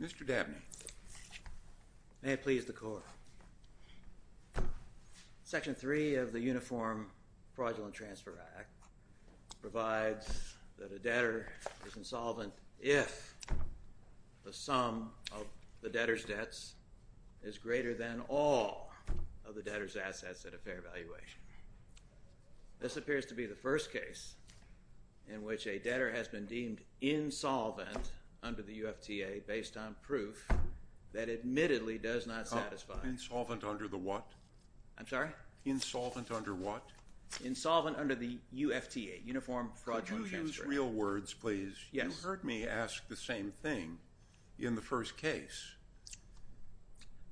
Mr. Dabney, may it please the Court, Section 3 of the Uniform Fraudulent Transfer Act provides that a debtor is insolvent if the sum of the debtor's debts is greater than all of the debtor's assets at a fair valuation. This appears to be the first case in which a debtor has been deemed insolvent under the UFTA based on proof that admittedly does not satisfy— Insolvent under the what? I'm sorry? Insolvent under what? Insolvent under the UFTA, Uniform Fraudulent Transfer Act. Could you use real words, please? Yes. You heard me ask the same thing in the first case.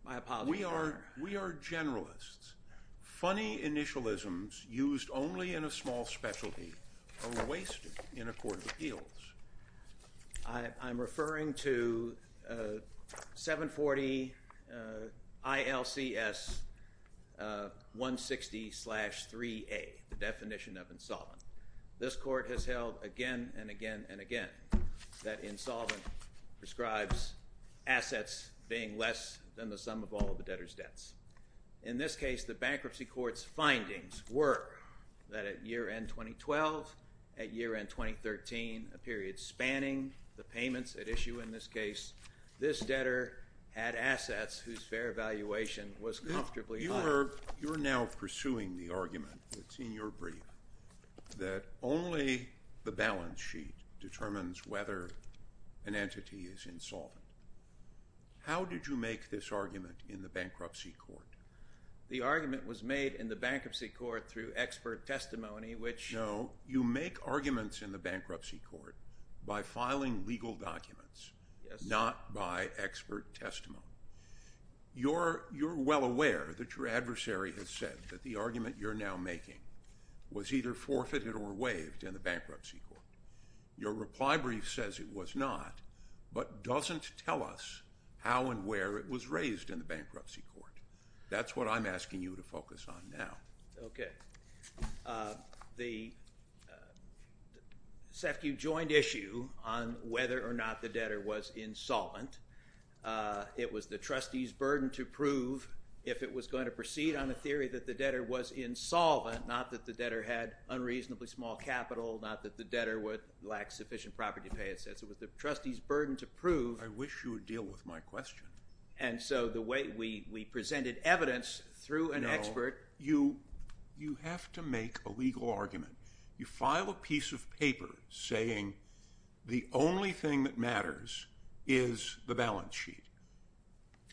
My apologies, Your Honor. We are generalists. Funny initialisms used only in a small specialty are wasted in a court of appeals. I'm referring to 740 ILCS 160-3A, the definition of insolvent. This Court has held again and again and again that insolvent prescribes assets being less than the sum of all of the debtor's debts. In this case, the bankruptcy court's findings were that at year-end 2012, at year-end 2013, a period spanning the payments at issue in this case, this debtor had assets whose fair valuation was comfortably higher. You're now pursuing the argument that's in your brief that only the balance sheet determines whether an entity is insolvent. How did you make this argument in the bankruptcy court? The argument was made in the bankruptcy court through expert testimony, which— No, you make arguments in the bankruptcy court by filing legal documents, not by expert testimony. You're well aware that your adversary has said that the argument you're now making was either forfeited or waived in the bankruptcy court. Your reply brief says it was not, but doesn't tell us how and where it was raised in the bankruptcy court. That's what I'm asking you to focus on now. Okay. The SEFCU joined issue on whether or not the debtor was insolvent. It was the trustee's burden to prove if it was going to proceed on a theory that the debtor was insolvent, not that the debtor had unreasonably small capital, not that the debtor would lack sufficient property to pay its debts. It was the trustee's burden to prove— I wish you would deal with my question. And so the way we presented evidence through an expert— No, you have to make a legal argument. You file a piece of paper saying the only thing that matters is the balance sheet.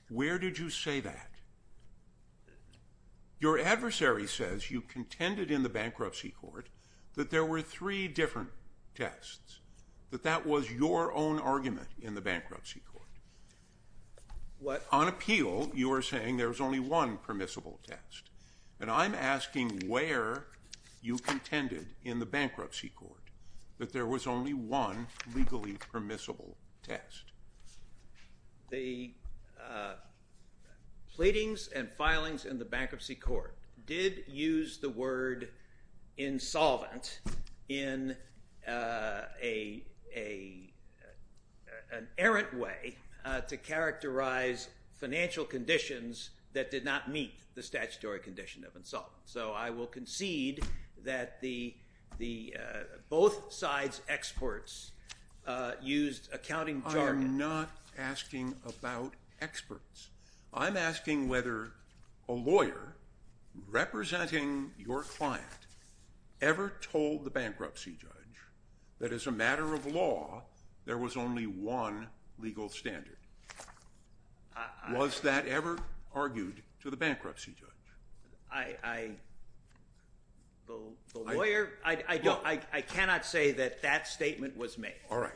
Where did you say that? Your adversary says you contended in the bankruptcy court that there were three different tests, that that was your own argument in the bankruptcy court. On appeal, you are saying there was only one permissible test. And I'm asking where you contended in the bankruptcy court that there was only one legally permissible test. The pleadings and filings in the bankruptcy court did use the word insolvent in an errant way to characterize financial conditions that did not meet the statutory condition of insolvent. So I will concede that both sides' experts used accounting jargon. I am not asking about experts. I'm asking whether a lawyer representing your client ever told the bankruptcy judge that as a matter of law, there was only one legal standard. Was that ever argued to the bankruptcy judge? I cannot say that that statement was made. All right.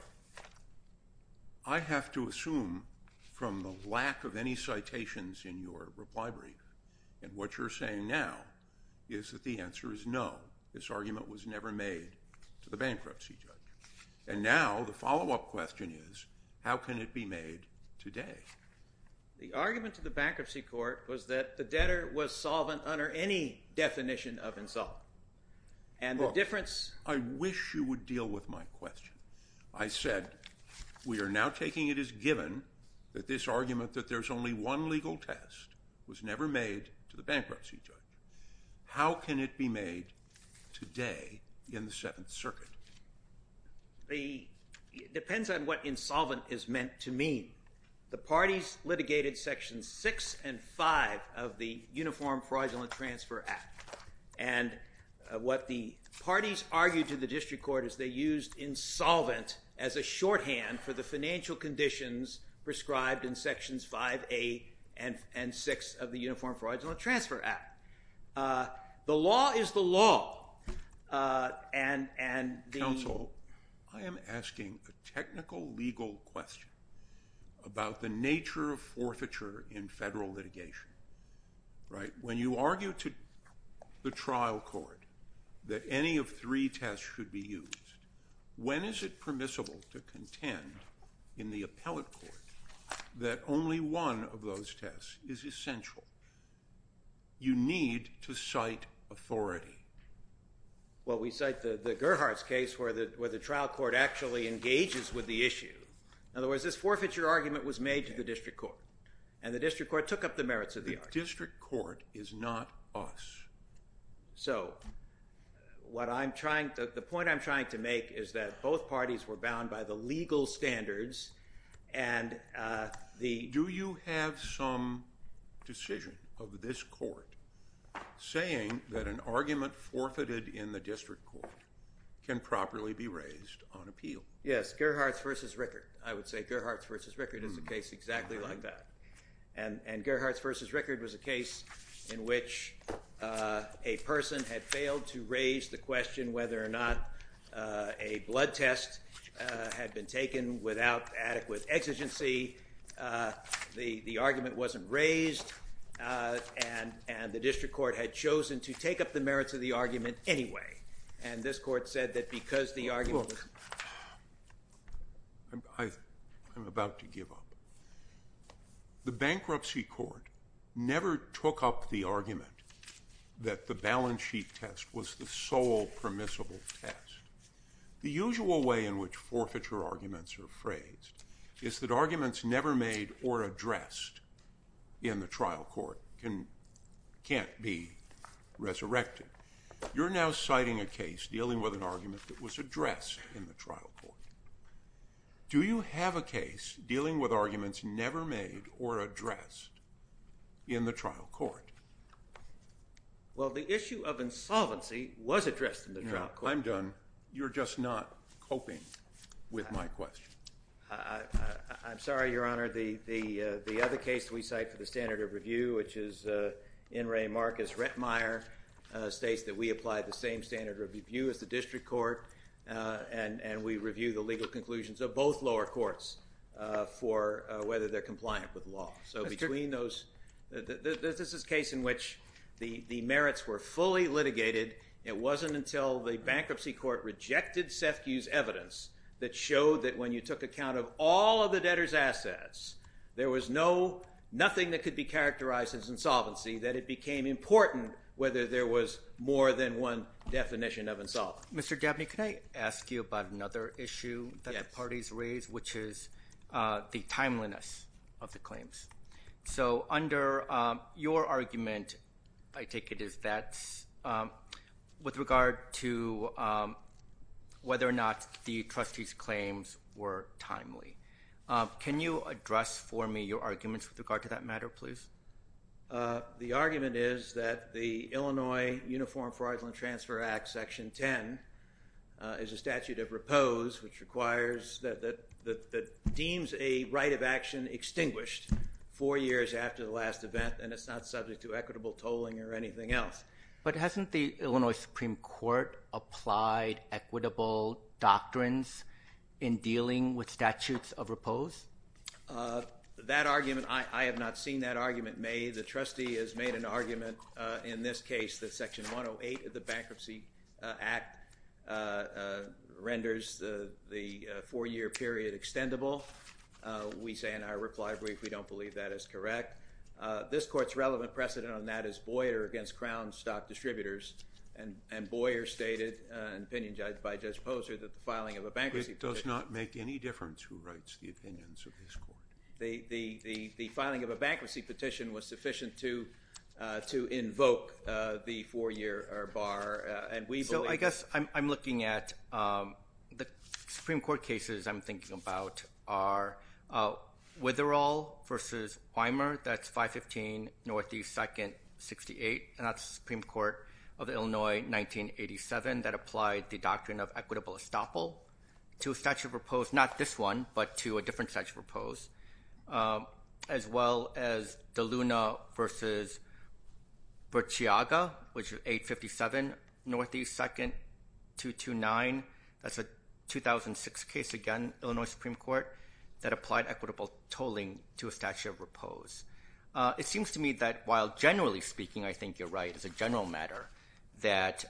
I have to assume from the lack of any citations in your reply brief and what you're saying now is that the answer is no. This argument was never made to the bankruptcy judge. And now the follow-up question is how can it be made today? The argument to the bankruptcy court was that the debtor was solvent under any definition of insolvent. And the difference- Look, I wish you would deal with my question. I said we are now taking it as given that this argument that there's only one legal test was never made to the bankruptcy judge. How can it be made today in the Seventh Circuit? It depends on what insolvent is meant to mean. The parties litigated Sections 6 and 5 of the Uniform Fraudulent Transfer Act. And what the parties argued to the district court is they used insolvent as a shorthand for the financial conditions prescribed in Sections 5A and 6 of the Uniform Fraudulent Transfer Act. The law is the law. Counsel, I am asking a technical legal question about the nature of forfeiture in federal litigation. When you argue to the trial court that any of three tests should be used, when is it permissible to contend in the appellate court that only one of those tests is essential? You need to cite authority. Well, we cite the Gerhardt's case where the trial court actually engages with the issue. In other words, this forfeiture argument was made to the district court. And the district court took up the merits of the argument. The district court is not us. So, the point I'm trying to make is that both parties were bound by the legal standards and the- of this court saying that an argument forfeited in the district court can properly be raised on appeal. Yes, Gerhardt's v. Rickard. I would say Gerhardt's v. Rickard is a case exactly like that. And Gerhardt's v. Rickard was a case in which a person had failed to raise the question whether or not a blood test had been taken without adequate exigency. The argument wasn't raised, and the district court had chosen to take up the merits of the argument anyway. And this court said that because the argument was- Look, I'm about to give up. The bankruptcy court never took up the argument that the balance sheet test was the sole permissible test. The usual way in which forfeiture arguments are phrased is that arguments never made or addressed in the trial court can't be resurrected. You're now citing a case dealing with an argument that was addressed in the trial court. Do you have a case dealing with arguments never made or addressed in the trial court? Well, the issue of insolvency was addressed in the trial court. I'm done. You're just not coping with my question. I'm sorry, Your Honor. The other case we cite for the standard of review, which is In re Marcus Rettmeyer, states that we apply the same standard of review as the district court. And we review the legal conclusions of both lower courts for whether they're compliant with law. So between those- this is a case in which the merits were fully litigated. It wasn't until the bankruptcy court rejected Sethkiw's evidence that showed that when you took account of all of the debtor's assets, there was nothing that could be characterized as insolvency, that it became important whether there was more than one definition of insolvency. Mr. Gabney, can I ask you about another issue that the parties raised, which is the timeliness of the claims? So under your argument, I take it as that's with regard to whether or not the trustees' claims were timely. Can you address for me your arguments with regard to that matter, please? The argument is that the Illinois Uniform Fraudulent Transfer Act, Section 10, is a statute of repose, which requires- that deems a right of action extinguished four years after the last event, and it's not subject to equitable tolling or anything else. But hasn't the Illinois Supreme Court applied equitable doctrines in dealing with statutes of repose? That argument- I have not seen that argument made. The trustee has made an argument in this case that Section 108 of the Bankruptcy Act renders the four-year period extendable. We say in our reply brief we don't believe that is correct. This Court's relevant precedent on that is Boyer against Crown stock distributors, and Boyer stated, an opinion judged by Judge Posner, that the filing of a bankruptcy petition- The filing of a bankruptcy petition was sufficient to invoke the four-year bar, and we believe- So I guess I'm looking at- the Supreme Court cases I'm thinking about are Witherall v. Weimer. That's 515 Northeast 2nd, 68, and that's the Supreme Court of Illinois, 1987, that applied the doctrine of equitable estoppel to a statute of repose. Not this one, but to a different statute of repose, as well as DeLuna v. Burciaga, which is 857 Northeast 2nd, 229. That's a 2006 case, again, Illinois Supreme Court, that applied equitable tolling to a statute of repose. It seems to me that while generally speaking, I think you're right, as a general matter, that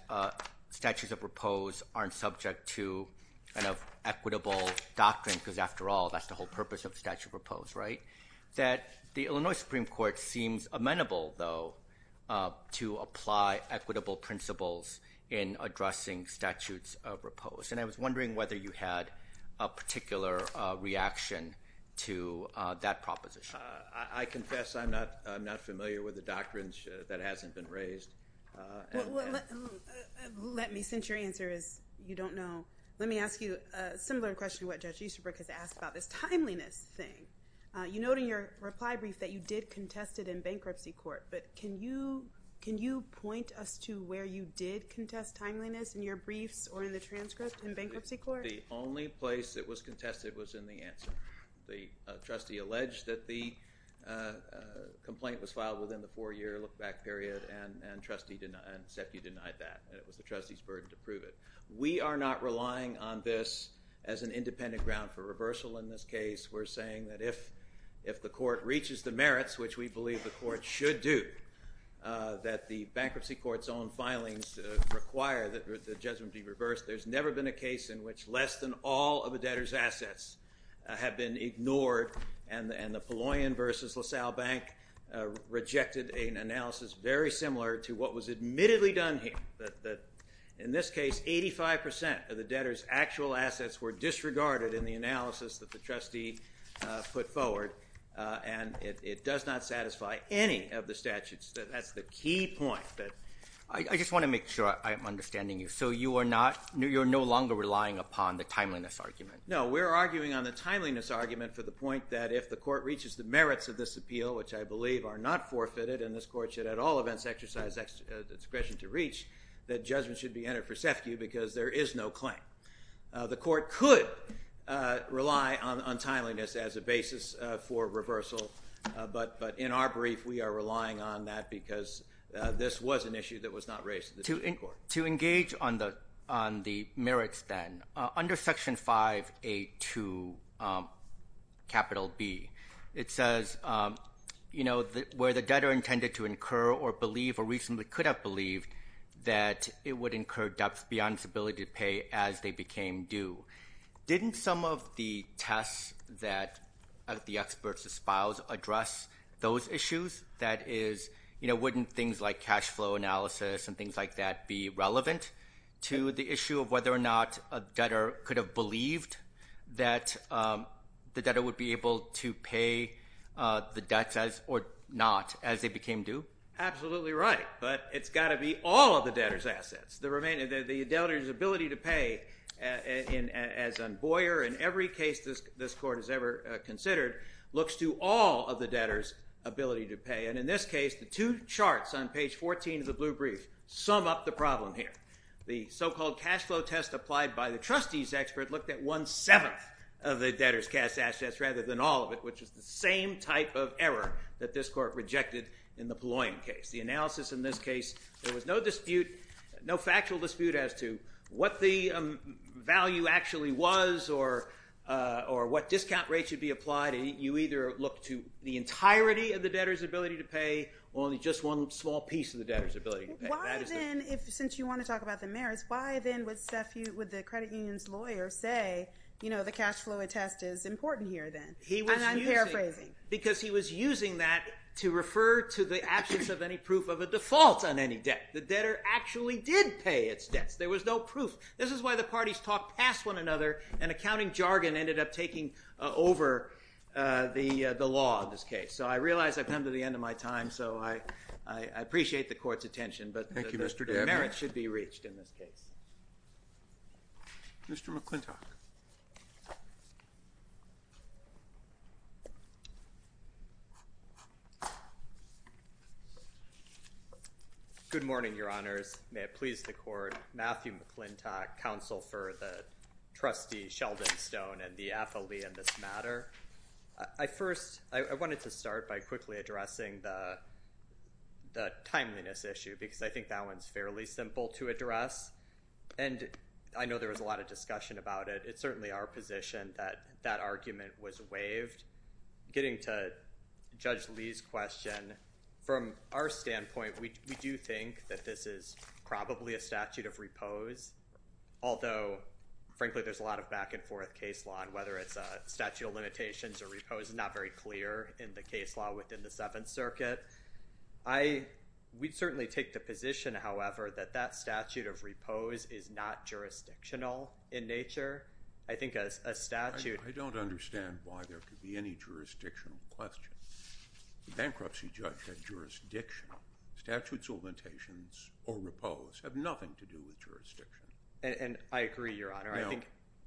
statutes of repose aren't subject to an equitable doctrine, because after all, that's the whole purpose of a statute of repose, right? That the Illinois Supreme Court seems amenable, though, to apply equitable principles in addressing statutes of repose, and I was wondering whether you had a particular reaction to that proposition. I confess I'm not familiar with the doctrines that hasn't been raised. Well, let me, since your answer is you don't know, let me ask you a similar question to what Judge Easterbrook has asked about this timeliness thing. You note in your reply brief that you did contest it in bankruptcy court, but can you point us to where you did contest timeliness in your briefs or in the transcript in bankruptcy court? The only place it was contested was in the answer. The trustee alleged that the complaint was filed within the four-year look-back period, and Seth, you denied that. It was the trustee's burden to prove it. We are not relying on this as an independent ground for reversal in this case. We're saying that if the court reaches the merits, which we believe the court should do, that the bankruptcy court's own filings require that the judgment be reversed. There's never been a case in which less than all of a debtor's assets have been ignored, and the Palloyan v. LaSalle Bank rejected an analysis very similar to what was admittedly done here. In this case, 85% of the debtor's actual assets were disregarded in the analysis that the trustee put forward, and it does not satisfy any of the statutes. That's the key point. I just want to make sure I'm understanding you. So you are no longer relying upon the timeliness argument? No, we're arguing on the timeliness argument for the point that if the court reaches the merits of this appeal, which I believe are not forfeited and this court should at all events exercise discretion to reach, that judgment should be entered for SEFCU because there is no claim. The court could rely on timeliness as a basis for reversal, but in our brief we are relying on that because this was an issue that was not raised in the Supreme Court. To engage on the merits then, under Section 5A2 capital B, it says, you know, where the debtor intended to incur or believe or reasonably could have believed that it would incur debts beyond its ability to pay as they became due. Didn't some of the tests that the experts espoused address those issues, that is, you know, wouldn't things like cash flow analysis and things like that be relevant to the issue of whether or not a debtor could have believed that the debtor would be able to pay the debts or not as they became due? Absolutely right, but it's got to be all of the debtor's assets. The debtor's ability to pay, as on Boyer and every case this court has ever considered, looks to all of the debtor's ability to pay. And in this case, the two charts on page 14 of the blue brief sum up the problem here. The so-called cash flow test applied by the trustee's expert looked at one-seventh of the debtor's cash assets rather than all of it, which is the same type of error that this court rejected in the Palloyan case. The analysis in this case, there was no dispute, no factual dispute as to what the value actually was or what discount rate should be applied. You either look to the entirety of the debtor's ability to pay or only just one small piece of the debtor's ability to pay. Why then, since you want to talk about the merits, why then would the credit union's lawyer say, you know, the cash flow test is important here then? And I'm paraphrasing. Because he was using that to refer to the absence of any proof of a default on any debt. The debtor actually did pay its debts. There was no proof. This is why the parties talked past one another and accounting jargon ended up taking over the law in this case. So I realize I've come to the end of my time, so I appreciate the court's attention, but the merits should be reached in this case. Mr. McClintock. Good morning, Your Honors. May it please the court, Matthew McClintock, Counsel for the Trustee Sheldon Stone and the affilee in this matter. I first wanted to start by quickly addressing the timeliness issue because I think that one's fairly simple to address, and I know there was a lot of discussion about it. It's certainly our position that that argument was waived. Getting to Judge Lee's question, from our standpoint, we do think that this is probably a statute of repose, although, frankly, there's a lot of back-and-forth case law, and whether it's a statute of limitations or repose is not very clear in the case law within the Seventh Circuit. We certainly take the position, however, that that statute of repose is not jurisdictional in nature. I think a statute— I don't understand why there could be any jurisdictional question. The bankruptcy judge had jurisdiction. Statutes of limitations or repose have nothing to do with jurisdiction. And I agree, Your Honor. Now,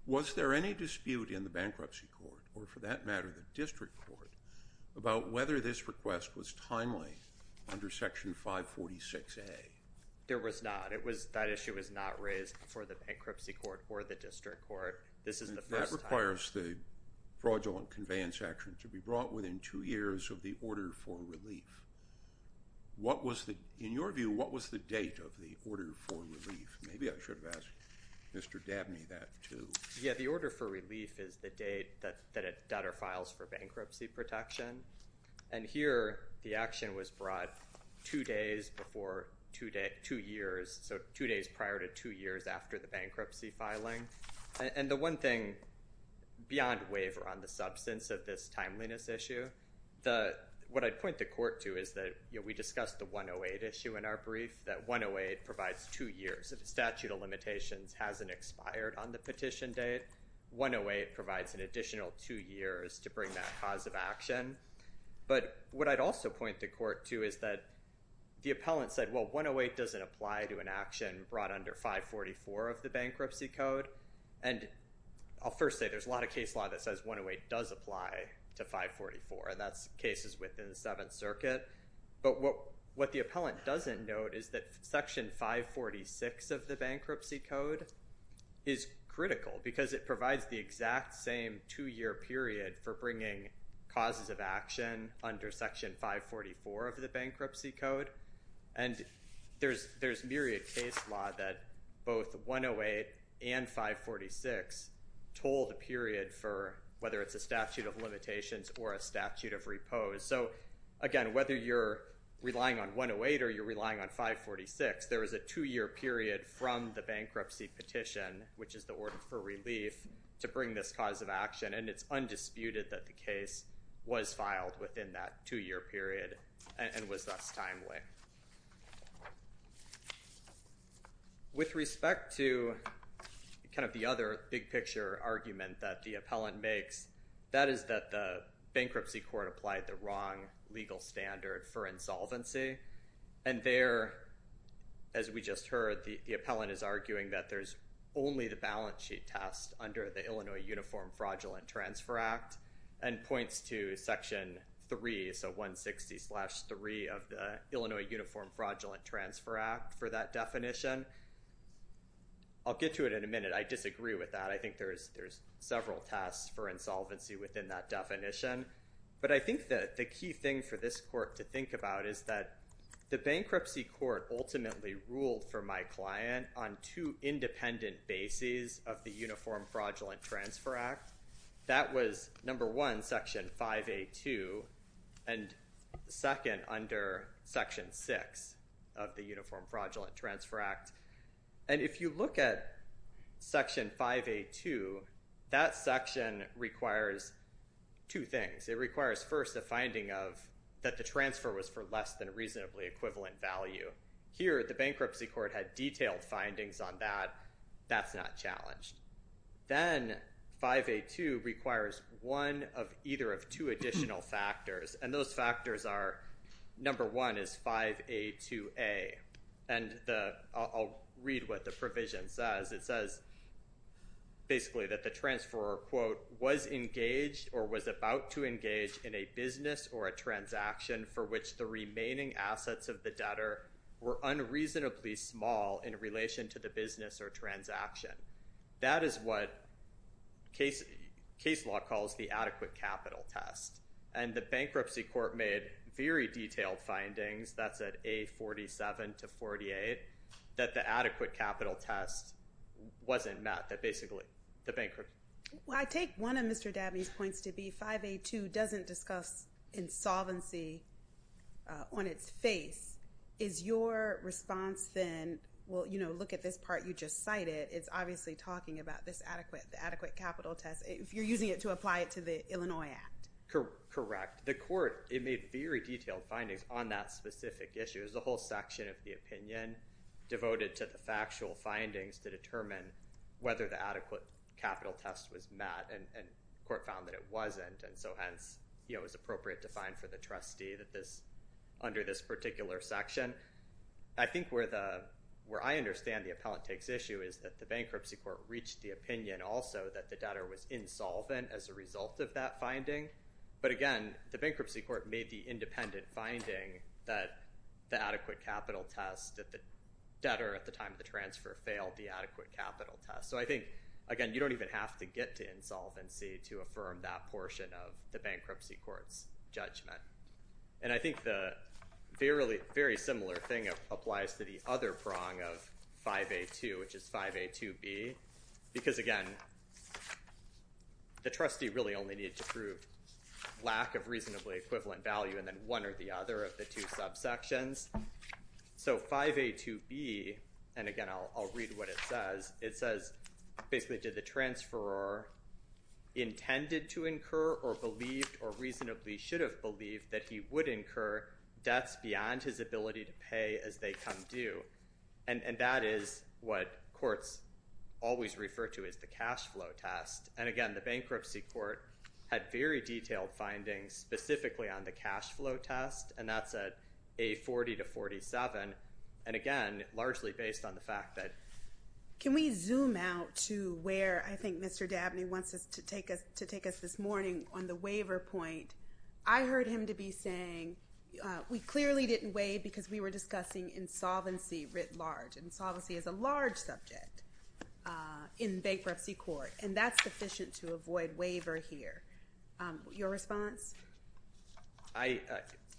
was there any dispute in the bankruptcy court, or for that matter the district court, about whether this request was timely under Section 546A? There was not. That issue was not raised before the bankruptcy court or the district court. This is the first time— That requires the fraudulent conveyance action to be brought within two years of the order for relief. Maybe I should have asked Mr. Dabney that, too. Yeah, the order for relief is the date that a debtor files for bankruptcy protection. And here, the action was brought two days prior to two years after the bankruptcy filing. And the one thing, beyond waiver on the substance of this timeliness issue, what I'd point the court to is that we discussed the 108 issue in our brief, that 108 provides two years if a statute of limitations hasn't expired on the petition date. 108 provides an additional two years to bring that cause of action. But what I'd also point the court to is that the appellant said, well, 108 doesn't apply to an action brought under 544 of the bankruptcy code. And I'll first say there's a lot of case law that says 108 does apply to 544, and that's cases within the Seventh Circuit. But what the appellant doesn't note is that Section 546 of the bankruptcy code is critical because it provides the exact same two-year period for bringing causes of action under Section 544 of the bankruptcy code. And there's myriad case law that both 108 and 546 toll the period for whether it's a statute of limitations or a statute of repose. So, again, whether you're relying on 108 or you're relying on 546, there is a two-year period from the bankruptcy petition, which is the order for relief, to bring this cause of action, and it's undisputed that the case was filed within that two-year period and was thus timely. With respect to kind of the other big-picture argument that the appellant makes, that is that the bankruptcy court applied the wrong legal standard for insolvency. And there, as we just heard, the appellant is arguing that there's only the balance sheet test under the Illinois Uniform Fraudulent Transfer Act and points to Section 3, so 160-3 of the Illinois Uniform Fraudulent Transfer Act for that definition. I'll get to it in a minute. I disagree with that. I think there's several tests for insolvency within that definition. But I think that the key thing for this court to think about is that the bankruptcy court ultimately ruled for my client on two independent bases of the Uniform Fraudulent Transfer Act. That was, number one, Section 5A2 and, second, under Section 6 of the Uniform Fraudulent Transfer Act. And if you look at Section 5A2, that section requires two things. It requires, first, a finding of that the transfer was for less than reasonably equivalent value. Here, the bankruptcy court had detailed findings on that. That's not challenged. Then, 5A2 requires one of either of two additional factors, and those factors are, number one is 5A2A. I'll read what the provision says. It says, basically, that the transfer, quote, was engaged or was about to engage in a business or a transaction for which the remaining assets of the debtor were unreasonably small in relation to the business or transaction. That is what case law calls the adequate capital test. And the bankruptcy court made very detailed findings. That's at A47 to 48, that the adequate capital test wasn't met, that basically the bankruptcy. Well, I take one of Mr. Dabney's points to be 5A2 doesn't discuss insolvency on its face. Is your response then, well, you know, look at this part you just cited. It's obviously talking about this adequate capital test. If you're using it to apply it to the Illinois Act. Correct. The court, it made very detailed findings on that specific issue. It was a whole section of the opinion devoted to the factual findings to determine whether the adequate capital test was met. And the court found that it wasn't. And so, hence, you know, it was appropriate to find for the trustee that this, under this particular section. I think where I understand the appellant takes issue is that the bankruptcy court reached the opinion also that the debtor was insolvent as a result of that finding. But, again, the bankruptcy court made the independent finding that the adequate capital test, that the debtor at the time of the transfer failed the adequate capital test. So I think, again, you don't even have to get to insolvency to affirm that portion of the bankruptcy court's judgment. And I think the very similar thing applies to the other prong of 5A2, which is 5A2B. Because, again, the trustee really only needed to prove lack of reasonably equivalent value and then one or the other of the two subsections. So 5A2B, and, again, I'll read what it says, it says basically did the transferor intended to incur or believed or reasonably should have believed that he would incur debts beyond his ability to pay as they come due. And that is what courts always refer to as the cash flow test. And, again, the bankruptcy court had very detailed findings specifically on the cash flow test. And that's at A40 to 47. And, again, largely based on the fact that. Can we zoom out to where I think Mr. Dabney wants us to take us this morning on the waiver point? I heard him to be saying we clearly didn't waive because we were discussing insolvency writ large. Insolvency is a large subject in bankruptcy court. And that's sufficient to avoid waiver here. Your response? I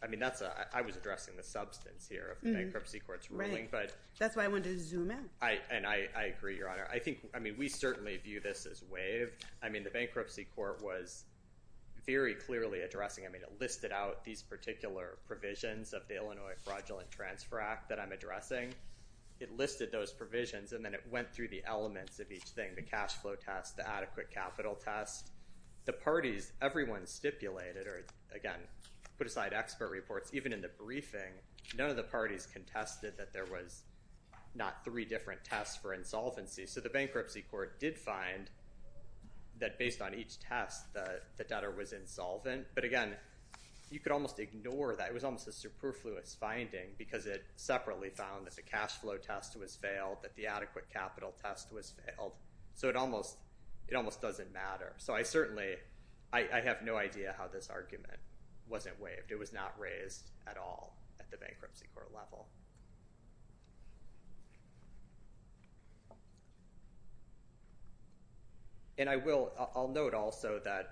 mean, I was addressing the substance here of the bankruptcy court's ruling. Right. That's why I wanted to zoom in. And I agree, Your Honor. I mean, we certainly view this as waive. I mean, the bankruptcy court was very clearly addressing. I mean, it listed out these particular provisions of the Illinois Fraudulent Transfer Act that I'm addressing. It listed those provisions, and then it went through the elements of each thing, the cash flow test, the adequate capital test. The parties, everyone stipulated or, again, put aside expert reports. Even in the briefing, none of the parties contested that there was not three different tests for insolvency. So the bankruptcy court did find that based on each test the debtor was insolvent. But, again, you could almost ignore that. It was almost a superfluous finding because it separately found that the cash flow test was failed, that the adequate capital test was failed. So it almost doesn't matter. So I certainly have no idea how this argument wasn't waived. It was not raised at all at the bankruptcy court level. And I will note also that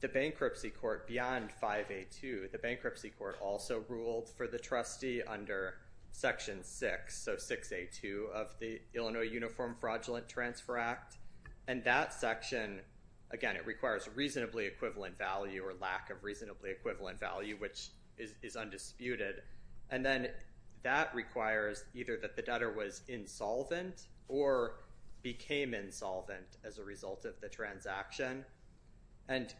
the bankruptcy court beyond 5A2, the bankruptcy court also ruled for the trustee under Section 6, so 6A2 of the Illinois Uniform Fraudulent Transfer Act. And that section, again, it requires reasonably equivalent value or lack of reasonably equivalent value, which is undisputed. And then that requires either that the debtor was insolvent or became insolvent as a result of the transaction. And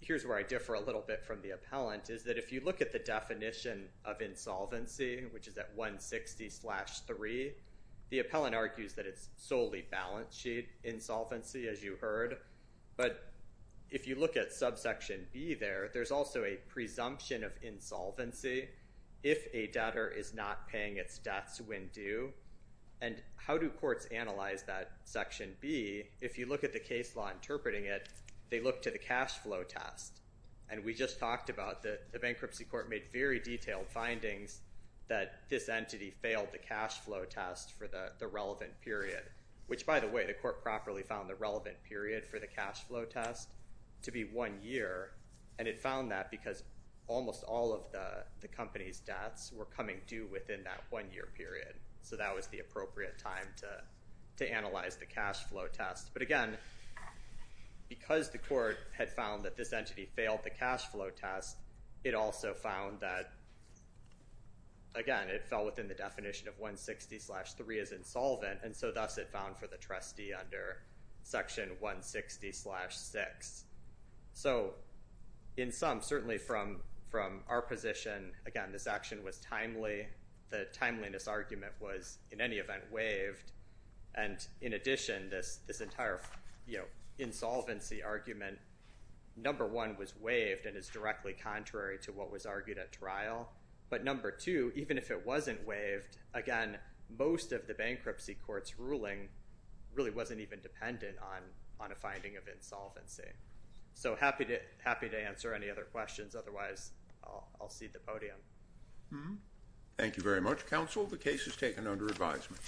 here's where I differ a little bit from the appellant, is that if you look at the definition of insolvency, which is at 160-3, the appellant argues that it's solely balance sheet insolvency, as you heard. But if you look at subsection B there, there's also a presumption of insolvency if a debtor is not paying its debts when due. And how do courts analyze that Section B? If you look at the case law interpreting it, they look to the cash flow test. And we just talked about that the bankruptcy court made very detailed findings that this entity failed the cash flow test for the relevant period, which, by the way, the court properly found the relevant period for the cash flow test to be one year. And it found that because almost all of the company's debts were coming due within that one-year period. So that was the appropriate time to analyze the cash flow test. But again, because the court had found that this entity failed the cash flow test, it also found that, again, it fell within the definition of 160-3 as insolvent, and so thus it found for the trustee under Section 160-6. So in sum, certainly from our position, again, this action was timely. The timeliness argument was, in any event, waived. And in addition, this entire insolvency argument, number one, was waived and is directly contrary to what was argued at trial. But number two, even if it wasn't waived, again, most of the bankruptcy court's ruling really wasn't even dependent on a finding of insolvency. So happy to answer any other questions. Otherwise, I'll cede the podium. Thank you very much, counsel. The case is taken under advisement.